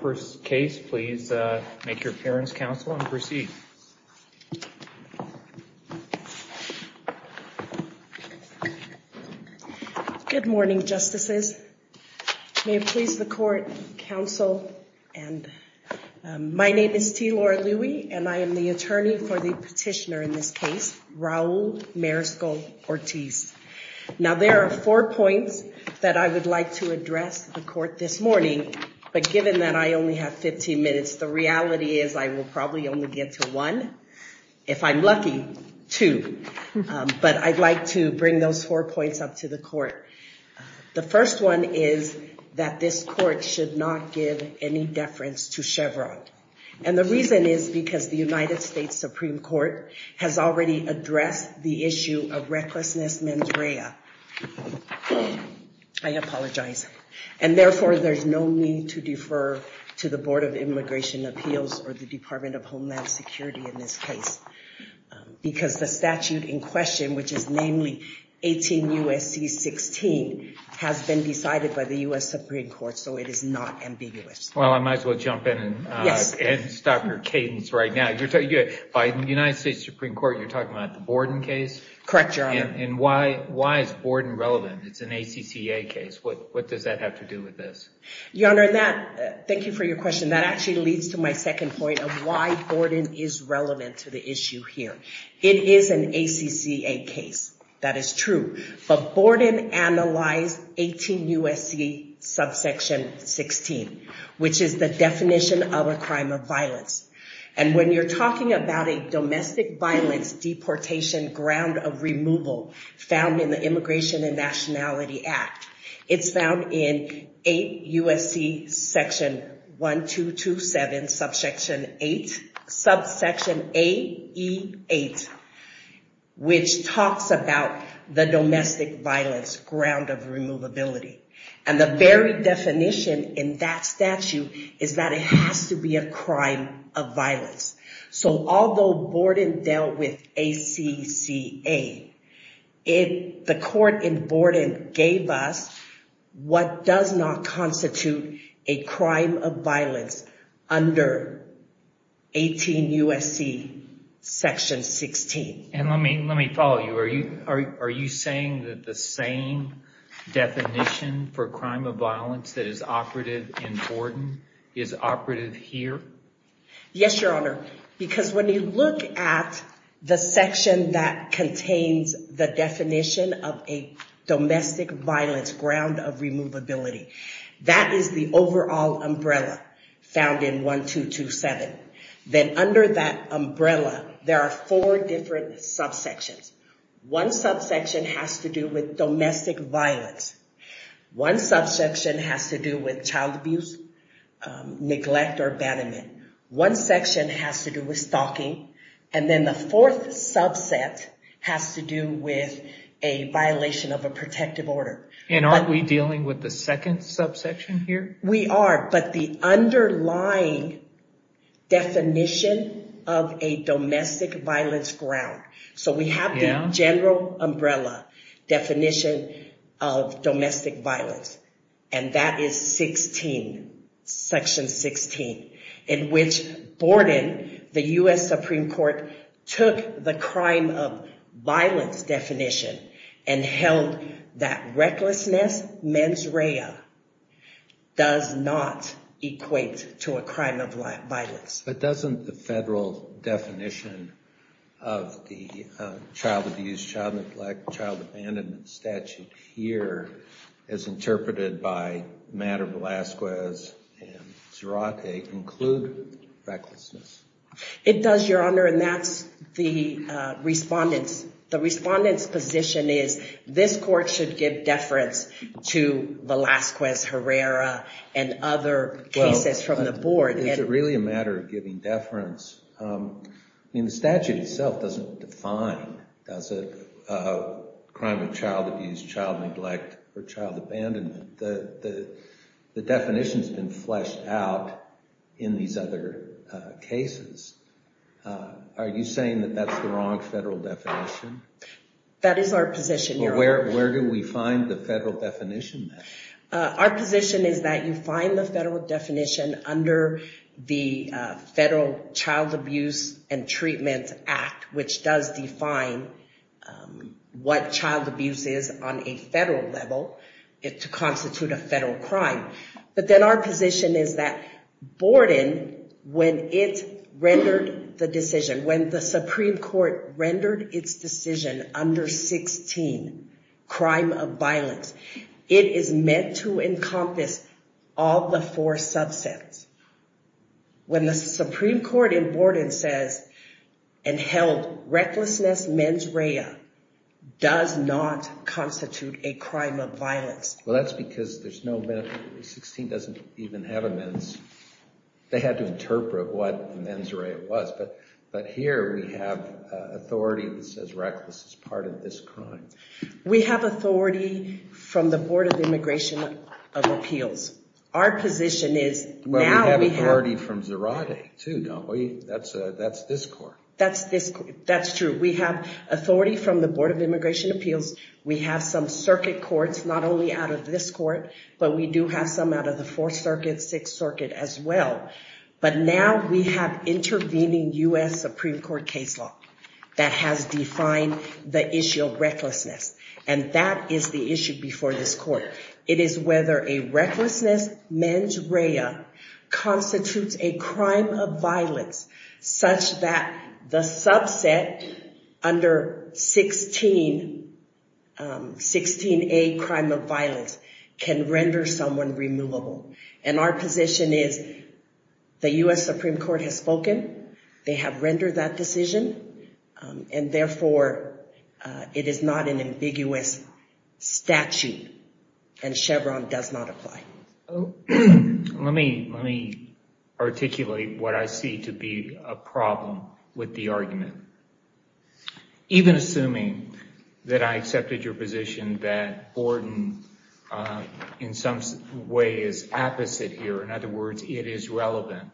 First case, please make your appearance, counsel, and proceed. Good morning, justices. May it please the court, counsel, and my name is T. Laura Louie, and I am the attorney for the petitioner in this case, Raul Mariscal-Ortiz. Now, there are four points that I would like to address the court this morning, but given that I only have 15 minutes, the reality is I will probably only get to one. If I'm lucky, two. But I'd like to bring those four points up to the court. The first one is that this court should not give any deference to Chevron. And the reason is because the United States Supreme Court has already addressed the I apologize. And therefore, there's no need to defer to the Board of Immigration Appeals or the Department of Homeland Security in this case. Because the statute in question, which is namely 18 U.S.C. 16, has been decided by the U.S. Supreme Court, so it is not ambiguous. Well, I might as well jump in and stop your cadence right now. By the United States Supreme Court, you're talking about the Borden case? Correct, Your Honor. And why is Borden relevant? It's an ACCA case. What does that have to do with this? Your Honor, thank you for your question. That actually leads to my second point of why Borden is relevant to the issue here. It is an ACCA case. That is true. But Borden analyzed 18 U.S.C. subsection 16, which is the definition of a crime of violence. And when you're talking about a found in the Immigration and Nationality Act, it's found in 8 U.S.C. section 1227, subsection 8, subsection AE8, which talks about the domestic violence ground of removability. And the very definition in that statute is that it has to be a crime of violence. So although Borden dealt with ACCA, the court in Borden gave us what does not constitute a crime of violence under 18 U.S.C. section 16. And let me follow you. Are you saying that the same definition for crime of violence that is operative in Borden is operative here? Yes, Your Honor. Because when you look at the section that contains the definition of a domestic violence ground of removability, that is the overall umbrella found in 1227. Then under that umbrella, there are four different subsections. One subsection has to do with domestic violence. One subsection has to do with child abuse, neglect, or abandonment. One section has to do with stalking. And then the fourth subset has to do with a violation of a protective order. And aren't we dealing with the second subsection here? We are, but the underlying definition of a domestic violence ground. So we have the general umbrella definition of domestic violence, and that is section 16, in which Borden, the U.S. Supreme Court, took the crime of violence definition and held that recklessness mens rea does not equate to a crime of violence. But doesn't the federal definition of the child abuse, child neglect, child abandonment statute here, as interpreted by Madda, Velazquez, and Zarate, include recklessness? It does, Your Honor, and that's the respondent's position is this court should give deference to Velazquez, Herrera, and other cases from the board. Is it really a matter of giving deference? I mean, the statute itself doesn't define, does it, crime of child abuse, child neglect, or child abandonment. The definition's been fleshed out in these other cases. Are you saying that that's the wrong federal definition? That is our position, Your Honor. Where do we find the federal definition? Our position is that you find the federal definition under the Federal Child Abuse and Treatment Act, which does define what child abuse is on a federal level to constitute a federal crime. But then our position is that Borden, when it rendered the decision, when the meant to encompass all the four subsets, when the Supreme Court in Borden says and held recklessness mens rea does not constitute a crime of violence. Well, that's because 16 doesn't even have a mens. They had to interpret what mens rea was, but here we have authority that says reckless is part of this crime. We have authority from the Board of Immigration of Appeals. Our position is, now we have... Well, we have authority from Zarate, too, don't we? That's this court. That's this court. That's true. We have authority from the Board of Immigration Appeals. We have some circuit courts, not only out of this court, but we do have some out of the Fourth Circuit, Sixth Circuit as well. But now we have intervening U.S. Supreme Court case law that has defined the issue of recklessness, and that is the issue before this court. It is whether a recklessness mens rea constitutes a crime of violence such that the subset under 16A, crime of violence, can render someone removable. And our position is the U.S. Supreme Court has therefore, it is not an ambiguous statute, and Chevron does not apply. Let me articulate what I see to be a problem with the argument. Even assuming that I accepted your position that Borden, in some way, is apposite here. In other words, it is relevant.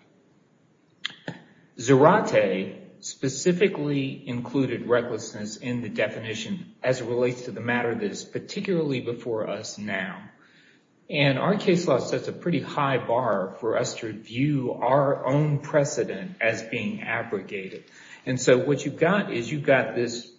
Zarate specifically included recklessness in the definition as it relates to the matter that is particularly before us now. And our case law sets a pretty high bar for us to view our own precedent as being abrogated. And so what you've got is you've got this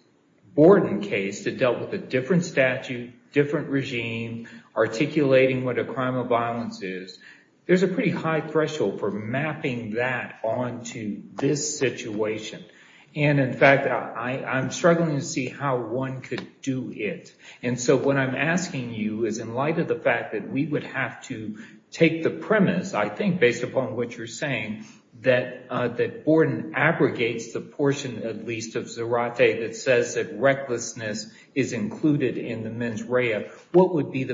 Borden case that dealt with a different statute, different regime, articulating what a crime of violence is. There's a pretty high threshold for mapping that onto this situation. And in fact, I'm struggling to see how one could do it. And so what I'm asking you is, in light of the fact that we would have to take the premise, I think, based upon what you're saying, that Borden abrogates the portion, at least, of Zarate that says that recklessness is included in the mens rea. What would be the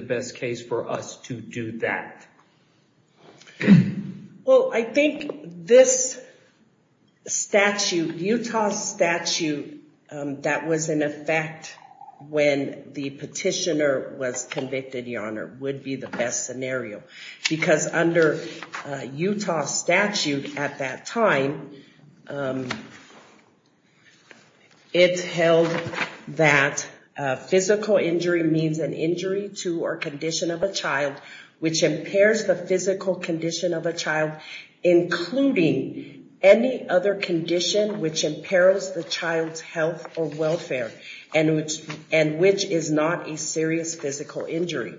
Well, I think this Utah statute that was in effect when the petitioner was convicted, Your Honor, would be the best scenario. Because under Utah statute at that time, it held that physical injury means an injury to or condition of a child which impairs the physical condition of a child, including any other condition which imperils the child's health or welfare, and which is not a serious physical injury.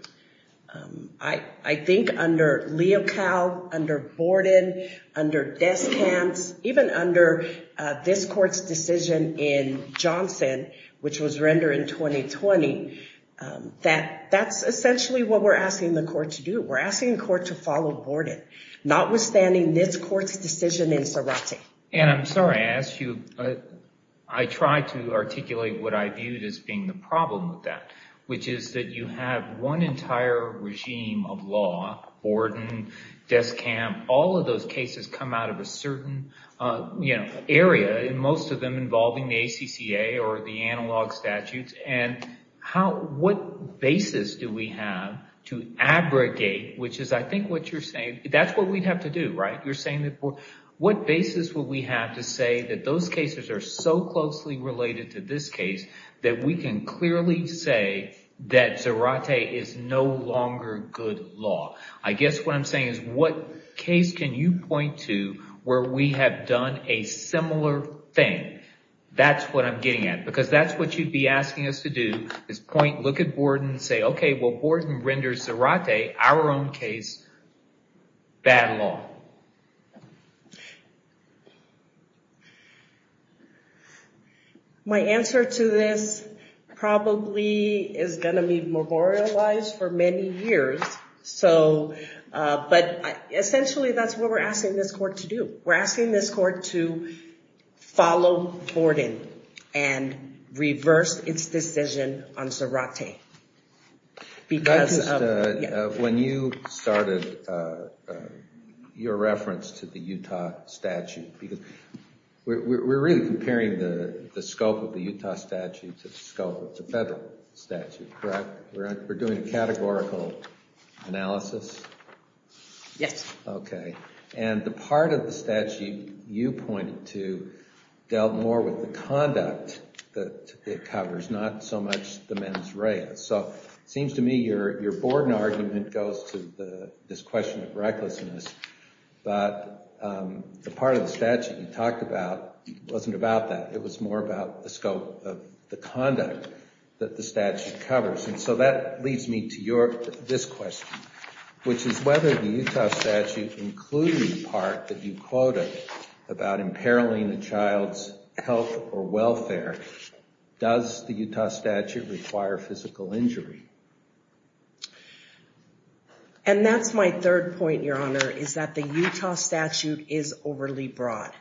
I think under Leocal, under Borden, under Descamps, even under this court's decision in We're asking the court to follow Borden, notwithstanding this court's decision in Zarate. And I'm sorry I asked you, I tried to articulate what I viewed as being the problem with that, which is that you have one entire regime of law, Borden, Descamps, all of those cases come out of a certain area, and most of them involving the ACCA or the analog statutes. And what basis do we have to abrogate, which is I think what you're saying, that's what we'd have to do, right? You're saying that, what basis would we have to say that those cases are so closely related to this case that we can clearly say that Zarate is no longer good law? I guess what I'm saying is, what case can you point to where we have done a similar thing? That's what I'm getting at. Because that's what you'd be asking us to do, is point, look at Borden and say, okay, well Borden renders Zarate, our own case, bad law. My answer to this probably is going to be memorialized for many years, but essentially that's what we're asking this court to do. We're asking this court to follow Borden and reverse its decision on Zarate. When you started your reference to the Utah statute, we're really comparing the scope of the Utah statute to the scope of the federal statute, correct? We're doing a categorical analysis? Yes. Okay, and the part of the statute you pointed to dealt more with the conduct that it covers, not so much the mens rea. So it seems to me your Borden argument goes to this question of recklessness, but the part of the statute you talked about wasn't about that. It was more about the scope of the conduct that the statute covers. And so that leads me to this question, which is whether the Utah statute, including the part that you quoted about imperiling a child's health or welfare, does the Utah statute require physical injury? And that's my third point, Your Honor, is that the Utah statute is overly broad.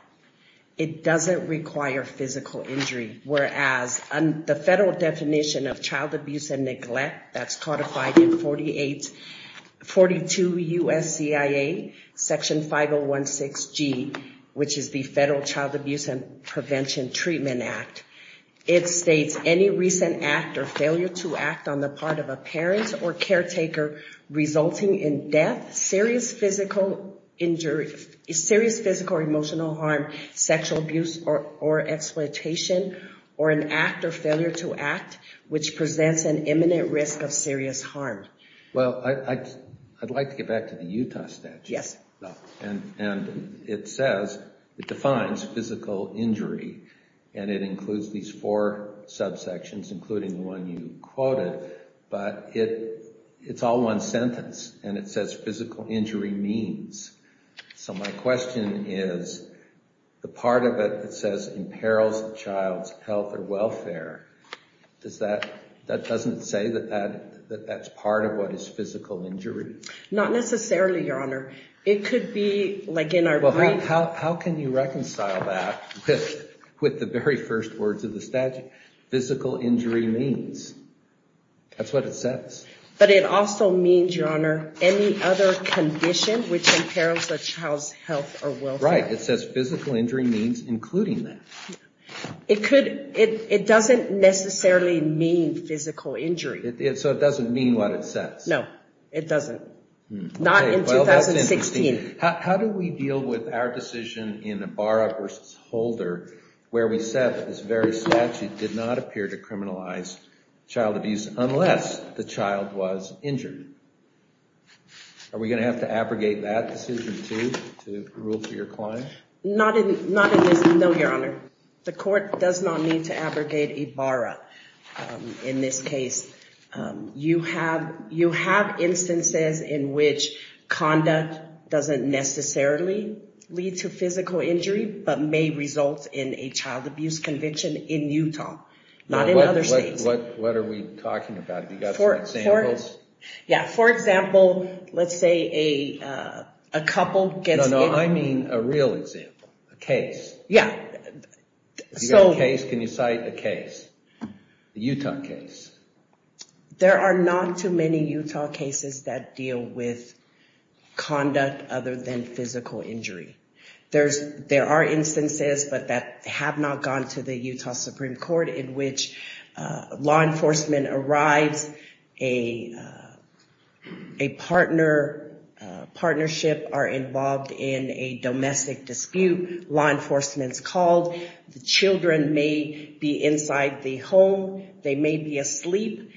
It doesn't require physical injury, whereas the federal definition of child abuse and neglect that's codified in 42 U.S. CIA, section 5016G, which is the Federal Child Abuse and Prevention Treatment Act, it states, any recent act or failure to act on the part of a parent or caretaker resulting in serious physical injury, serious physical or emotional harm, sexual abuse or exploitation, or an act or failure to act which presents an imminent risk of serious harm. Well, I'd like to get back to the Utah statute. Yes. And it says, it defines physical injury, and it includes these four subsections, including the one you quoted, but it's all one sentence, and it says physical injury means. So my question is, the part of it that says imperils a child's health or welfare, does that, that doesn't say that that's part of what is physical injury? Not necessarily, Your Honor. It could be, like in our brief... How can you reconcile that with the very first words of the statute? Physical injury means. That's what it says. But it also means, Your Honor, any other condition which imperils a child's health or welfare. Right. It says physical injury means including that. It could, it doesn't necessarily mean physical injury. So it doesn't mean what it says. No, it doesn't. Not in 2016. How do we deal with our decision in Ibarra v. Holder, where we said that this very statute did not appear to criminalize child abuse unless the child was injured? Are we going to have to abrogate that decision, too, to rule to your client? Not in this, no, Your Honor. The court does not need to abrogate Ibarra in this case. You have, you have instances in which conduct doesn't necessarily lead to physical injury, but may result in a child abuse conviction in Utah, not in other states. What are we talking about? Have you got some examples? Yeah, for example, let's say a couple gets... No, no, I mean a real example, a case. Yeah. If you've got a case, can you cite a case, a Utah case? There are not too many Utah cases that deal with conduct other than physical injury. There's, there are instances, but that have not gone to the Utah Supreme Court, in which law enforcement arrives, a partner, partnership are involved in a domestic dispute, law enforcement's called, the children may be inside the home, they may be asleep.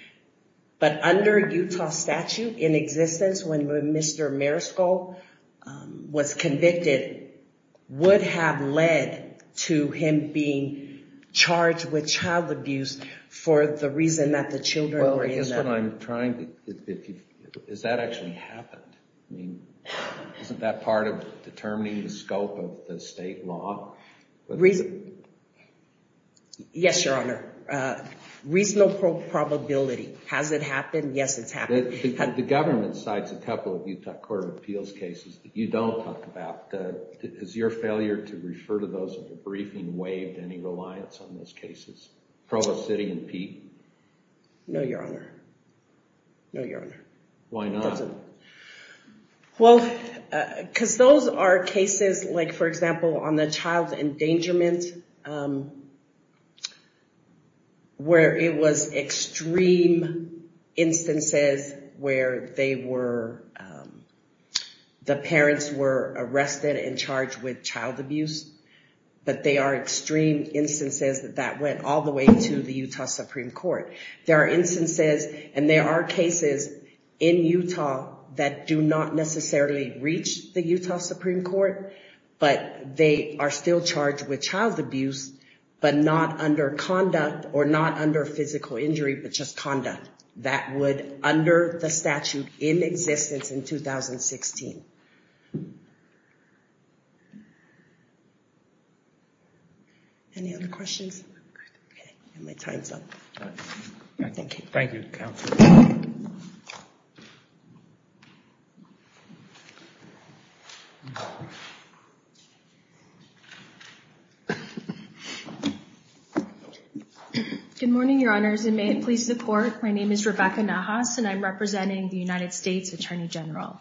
But under a Utah statute in existence, when Mr. Marisco was convicted, would have led to him being charged with child abuse for the reason that the children were in there. Well, I guess what I'm trying to, is that actually happened? I mean, isn't that part of determining the scope of the state law? Reason... Yes, Your Honor. Reasonable probability. Has it happened? Yes, it's happened. The government cites a couple of Utah Court of Appeals cases that you don't talk about. Is your failure to refer to those in the briefing waived any reliance on those cases? Provost Sitte and Pete? No, Your Honor. No, Your Honor. Why not? Well, because those are cases like, for example, on the child endangerment, where it was extreme instances where they were, the parents were arrested and charged with child abuse, but they are extreme instances that went all the way to the Utah Supreme Court. There are instances, and there are cases in Utah that do not necessarily reach the Utah Supreme Court, but they are still charged with child abuse, but not under conduct, or not under physical injury, but just conduct. That would, under the statute in existence in 2016. Any other questions? Okay, my time's up. Thank you, Counsel. Good morning, Your Honors, and may it please the Court. My name is Rebecca Nahas, and I'm representing the United States Attorney General.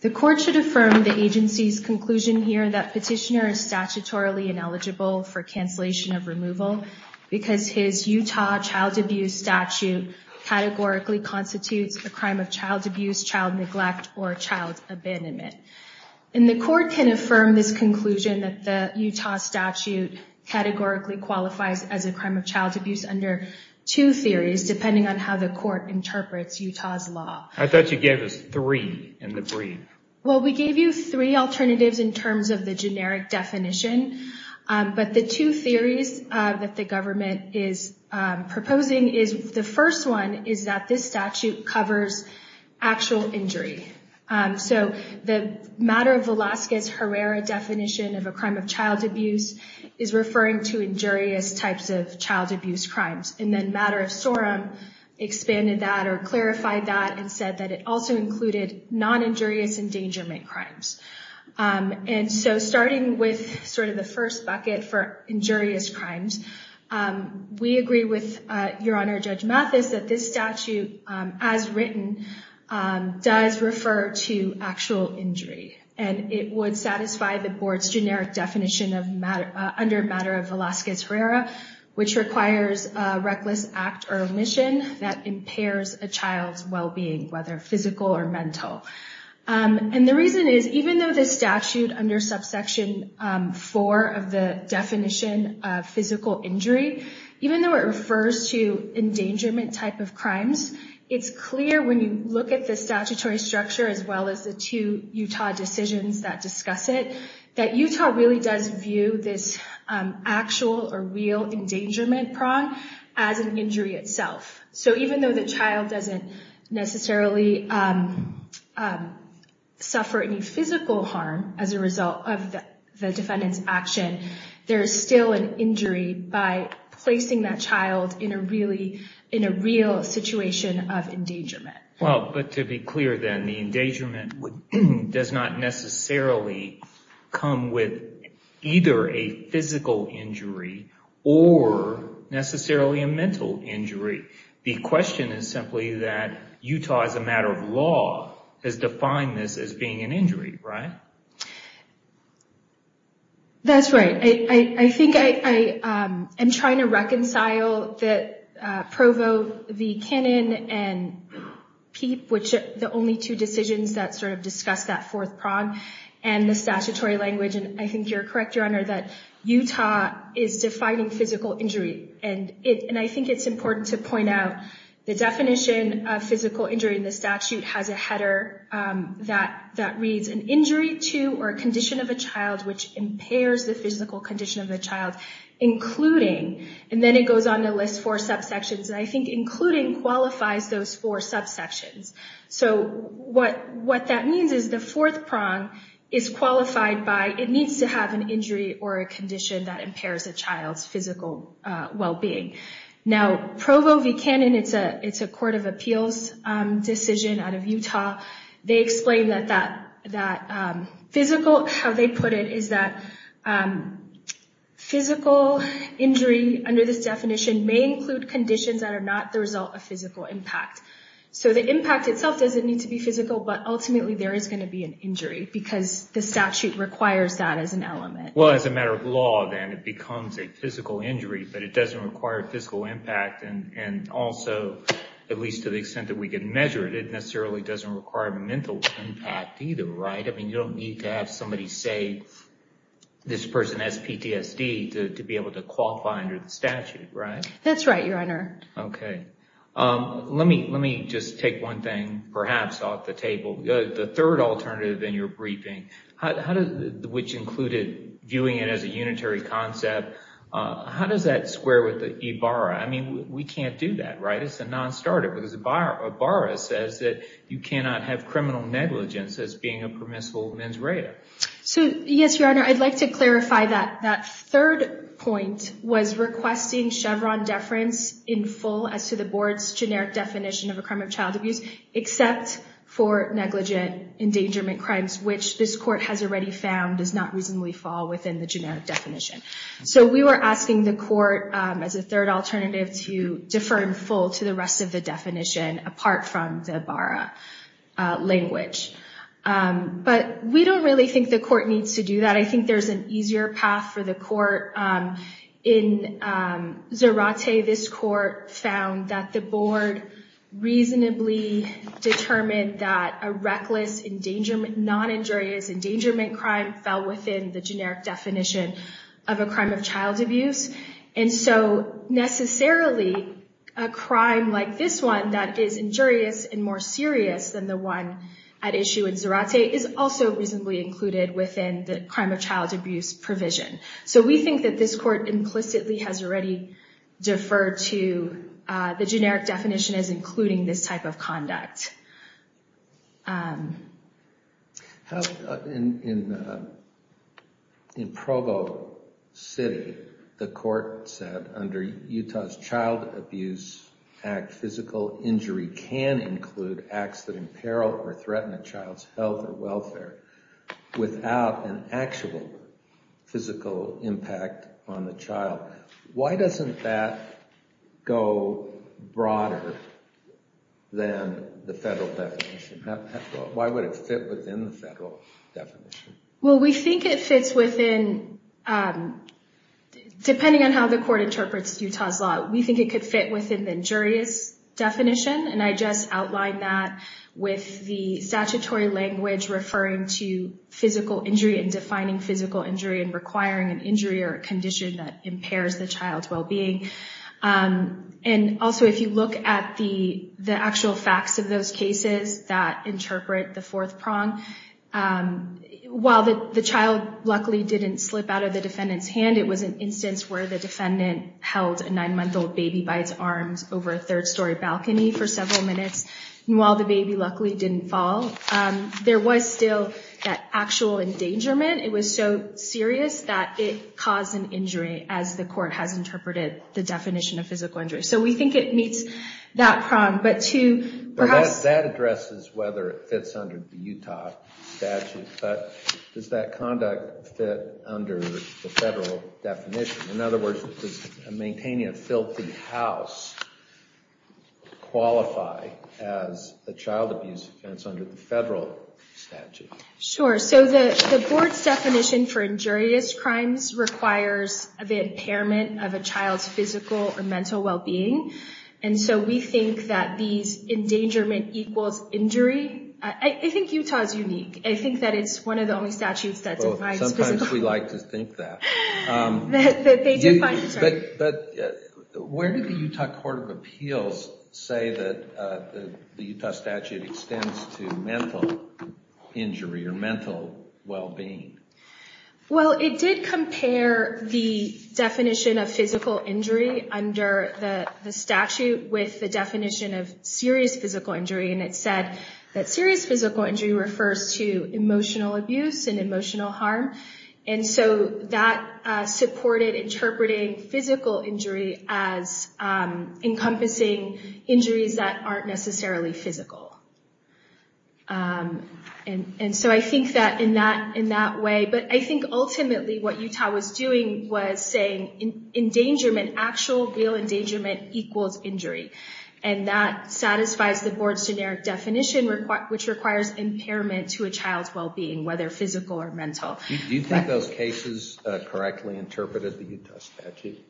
The Court should affirm the agency's conclusion here that Petitioner is statutorily ineligible for cancellation of removal because his Utah child abuse statute categorically constitutes a crime of child abuse, child neglect, or child abandonment. And the Court can affirm this conclusion that the Utah statute categorically qualifies as a crime of child abuse under two theories, depending on how the Court interprets Utah's law. I thought you gave us three in the brief. Well, we gave you three alternatives in terms of the generic definition, but the two theories that the government is proposing is, the first one is that this statute covers actual injury. So the matter of Velasquez-Herrera definition of a crime of child abuse is referring to injurious types of child abuse crimes. And then Matter of Sorum expanded that, or clarified that, and said that it also included non-injurious endangerment crimes. And so starting with sort of the first bucket for injurious crimes, we agree with Your Honor Judge Mathis that this statute, as written, does refer to actual injury. And it would satisfy the Board's generic definition under Matter of Velasquez-Herrera, which requires a reckless act or omission that impairs a child's well-being, whether physical or mental. And the reason is, even though this statute, under subsection 4 of the definition of physical injury, even though it refers to endangerment type of crimes, it's clear when you look at the statutory structure, as well as the two Utah decisions that discuss it, that Utah really does view this actual or real endangerment prong as an injury itself. So even though the child doesn't necessarily suffer any physical harm as a result of the defendant's action, there is still an injury by placing that child in a real situation of endangerment. Well, but to be clear then, the endangerment does not necessarily come with either a physical injury or necessarily a mental injury. The question is simply that Utah, as a matter of law, has defined this as being an injury, right? That's right. I think I am trying to reconcile Provo v. Cannon and Peep, which are the only two decisions that sort of discuss that fourth prong, and the statutory language. And I think you're correct, Your Honor, that Utah is defining physical injury. And I think it's important to point out the definition of physical injury in the statute has a header that reads, an injury to or condition of a child which impairs the physical condition of the child, including. And then it goes on to list four subsections. And I think including qualifies those four subsections. So what that means is the fourth prong is qualified by, it needs to have an injury or a condition that impairs a child's physical well-being. Now, Provo v. Cannon, it's a court of appeals decision out of Utah. They explain that physical, how they put it is that physical injury under this definition may include conditions that are not the result of physical impact. So the impact itself doesn't need to be physical, but ultimately there is going to be an injury because the statute requires that as an element. Well, as a matter of law, then it becomes a physical injury, but it doesn't require physical impact. And also, at least to the extent that we can measure it, it necessarily doesn't require mental impact either, right? I mean, you don't need to have somebody say this person has PTSD to be able to qualify under the statute, right? That's right, Your Honor. Okay, let me just take one thing perhaps off the table. The third alternative in your briefing, which included viewing it as a unitary concept, how does that square with the IBARA? I mean, we can't do that, right? It's a non-starter because IBARA says that you cannot have criminal negligence as being a permissible mens rea. So yes, Your Honor, I'd like to clarify that. That third point was requesting Chevron deference in full as to the board's generic definition of a crime of child abuse, except for negligent endangerment crimes, which this court has already found does not reasonably fall within the generic definition. So we were asking the court as a third alternative to defer in full to the rest of the definition apart from the IBARA language. But we don't really think the court needs to do that. I think there's an easier path for the court. In Zarate, this court found that the board reasonably determined that a reckless non-injurious endangerment crime fell within the generic definition of a crime of child abuse. And so necessarily, a crime like this one that is injurious and more serious than the one at issue in Zarate is also reasonably included within the crime of child abuse provision. So we think that this court implicitly has already deferred to the generic definition as including this type of conduct. In Provo City, the court said under Utah's Child Abuse Act, physical injury can include acts that imperil or threaten a child's health or welfare without an actual physical impact on the child. Why doesn't that go broader than the federal definition? Why would it fit within the federal definition? Well, we think it fits within, depending on how the court interprets Utah's law, we think it could fit within the injurious definition. And I just outlined that with the statutory language referring to physical injury and defining physical injury and requiring an injury or a condition that impairs the child's well-being. And also, if you look at the actual facts of those cases that interpret the fourth prong, while the child luckily didn't slip out of the defendant's hand, it was an instance where the defendant held a nine-month-old baby by its arms over a third-story balcony for several minutes. And while the baby luckily didn't fall, there was still that actual endangerment. It was so serious that it caused an injury, as the court has interpreted the definition of physical injury. So we think it meets that prong. But to perhaps- That addresses whether it fits under the Utah statute. But does that conduct fit under the federal definition? In other words, does maintaining a filthy house qualify as a child abuse offense under the federal statute? Sure. So the board's definition for injurious crimes requires the impairment of a child's physical or mental well-being. And so we think that these endangerment equals injury. I think Utah is unique. I think that it's one of the only statutes that defines- Sometimes we like to think that. That they define- But where did the Utah Court of Appeals say that the Utah statute extends to mental injury or mental well-being? Well, it did compare the definition of physical injury under the statute with the definition of serious physical injury. And it said that serious physical injury refers to emotional abuse and emotional harm. And so that supported interpreting physical injury as encompassing injuries that aren't necessarily physical. And so I think that in that way- But I think ultimately what Utah was doing was saying endangerment, actual real endangerment equals injury. And that satisfies the board's generic definition, which requires impairment to a child's well-being, whether physical or mental. Do you think those cases correctly interpreted the Utah statute?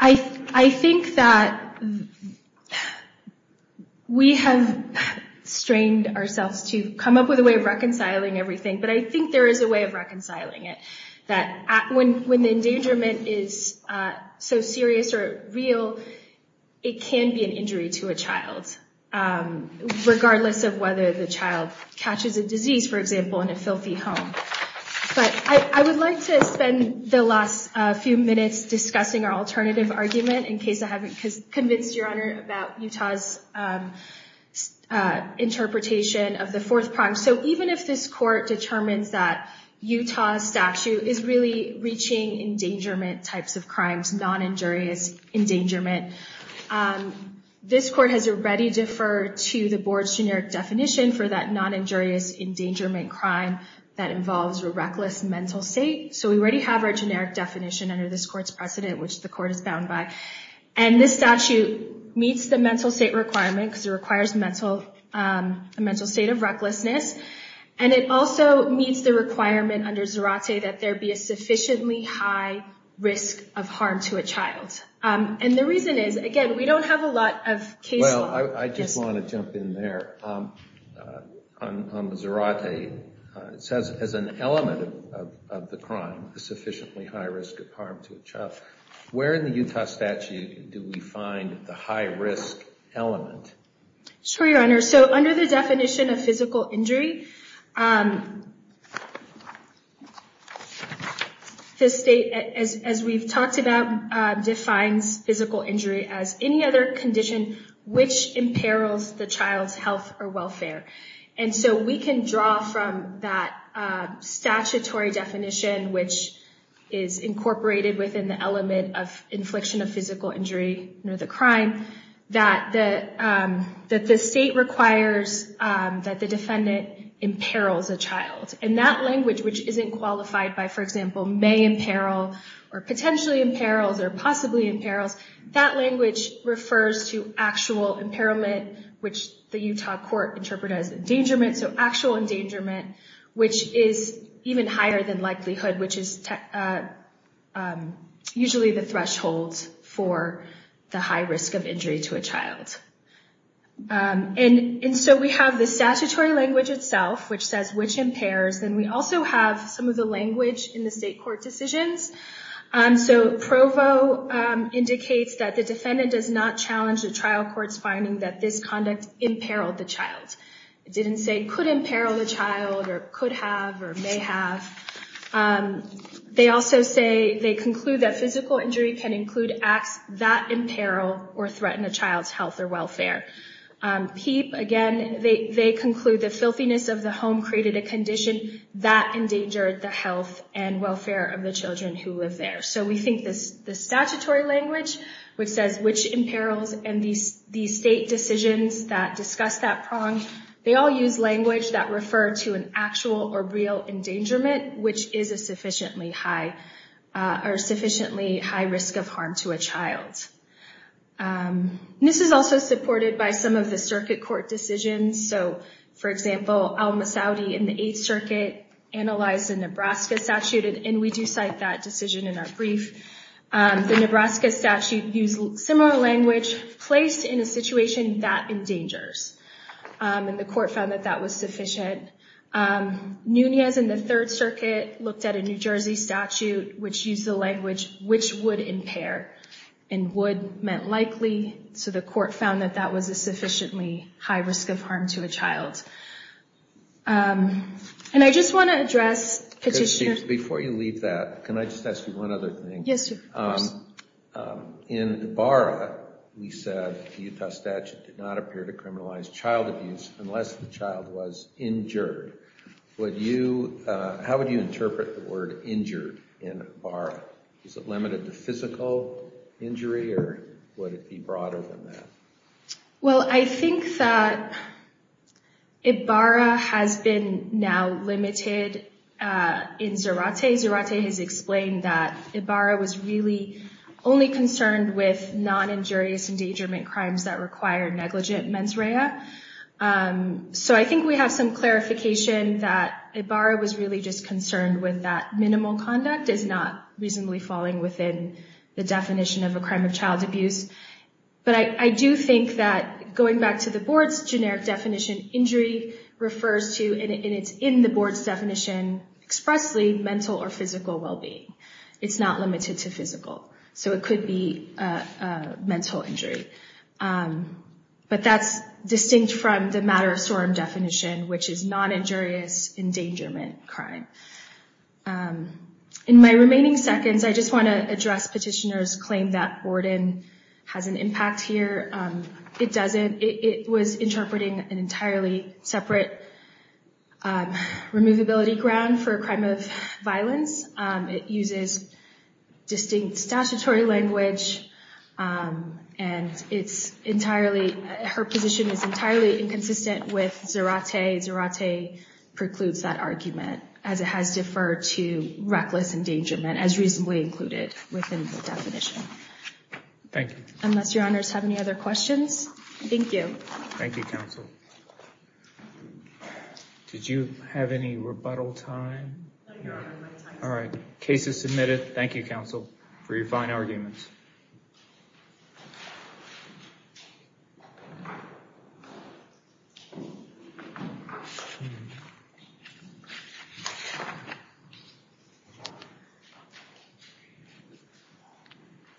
I think that we have strained ourselves to come up with a way of reconciling everything. But I think there is a way of reconciling it. That when the endangerment is so serious or real, it can be an injury to a child, regardless of whether the child catches a disease, for example, in a filthy home. But I would like to spend the last few minutes discussing our alternative argument, in case I haven't convinced your honor about Utah's interpretation of the fourth prime. So even if this court determines that Utah statute is really reaching endangerment types of crimes, non-injurious endangerment, this court has already deferred to the board's generic definition for that non-injurious endangerment crime that involves a reckless mental state. So we already have our generic definition under this court's precedent, which the court is bound by. And this statute meets the mental state requirement, because it requires a mental state of recklessness. And it also meets the requirement under Zerate that there be a sufficiently high risk of harm to a child. And the reason is, again, we don't have a lot of case law. Well, I just want to jump in there. On the Zerate, it says, as an element of the crime, a sufficiently high risk of harm to a child. Where in the Utah statute do we find the high risk element? Sure, your honor. So under the definition of physical injury, the state, as we've talked about, defines physical injury as any other condition which imperils the child's health or welfare. And so we can draw from that statutory definition, which is incorporated within the element of infliction of physical injury under the crime, that the state requires that the defendant imperils a child. And that language, which isn't qualified by, for example, may imperil, or potentially imperils, or possibly imperils, that language refers to actual imperilment, which the Utah court interpreted as endangerment. Actual endangerment, which is even higher than likelihood, which is usually the threshold for the high risk of injury to a child. And so we have the statutory language itself, which says which impairs. Then we also have some of the language in the state court decisions. So Provo indicates that the defendant does not challenge the trial court's finding that this conduct imperiled the child. It didn't say could imperil the child, or could have, or may have. They also say, they conclude that physical injury can include acts that imperil or threaten a child's health or welfare. PEEP, again, they conclude the filthiness of the home created a condition that endangered the health and welfare of the children who live there. So we think the statutory language, which says which imperils, and these state decisions that discuss that prong, they all use language that refer to an actual or real endangerment, which is a sufficiently high risk of harm to a child. This is also supported by some of the circuit court decisions. So, for example, Alma Saudi in the Eighth Circuit analyzed the Nebraska statute, and we do cite that decision in our brief. The Nebraska statute used similar language, placed in a situation that endangers. And the court found that that was sufficient. Nunez in the Third Circuit looked at a New Jersey statute, which used the language, which would impair. And would meant likely, so the court found that that was a sufficiently high risk of harm to a child. And I just want to address Petitioner- Before you leave that, can I just ask you one other thing? Yes, of course. In Ibarra, we said the Utah statute did not appear to criminalize child abuse unless the child was injured. How would you interpret the word injured in Ibarra? Is it limited to physical injury, or would it be broader than that? Well, I think that Ibarra has been now limited in Zarate. Zarate has explained that Ibarra was really only concerned with non-injurious endangerment crimes that required negligent mens rea. So I think we have some clarification that Ibarra was really just concerned with that minimal conduct is not reasonably falling within the definition of a crime of child abuse. But I do think that going back to the board's generic definition, injury refers to, and it's in the board's definition expressly, mental or physical well-being. It's not limited to physical. So it could be a mental injury. But that's distinct from the matter of sorum definition, which is non-injurious endangerment crime. In my remaining seconds, I just want to address petitioner's claim that Borden has an impact here. It doesn't. It was interpreting an entirely separate removability ground for a crime of violence. It uses distinct statutory language, and her position is entirely inconsistent with Zarate. Zarate precludes that argument as it has deferred to reckless endangerment as reasonably included within the definition. Thank you. Unless your honors have any other questions. Thank you. Thank you, counsel. Did you have any rebuttal time? All right. Case is submitted. Thank you, counsel, for your fine arguments. Thank you.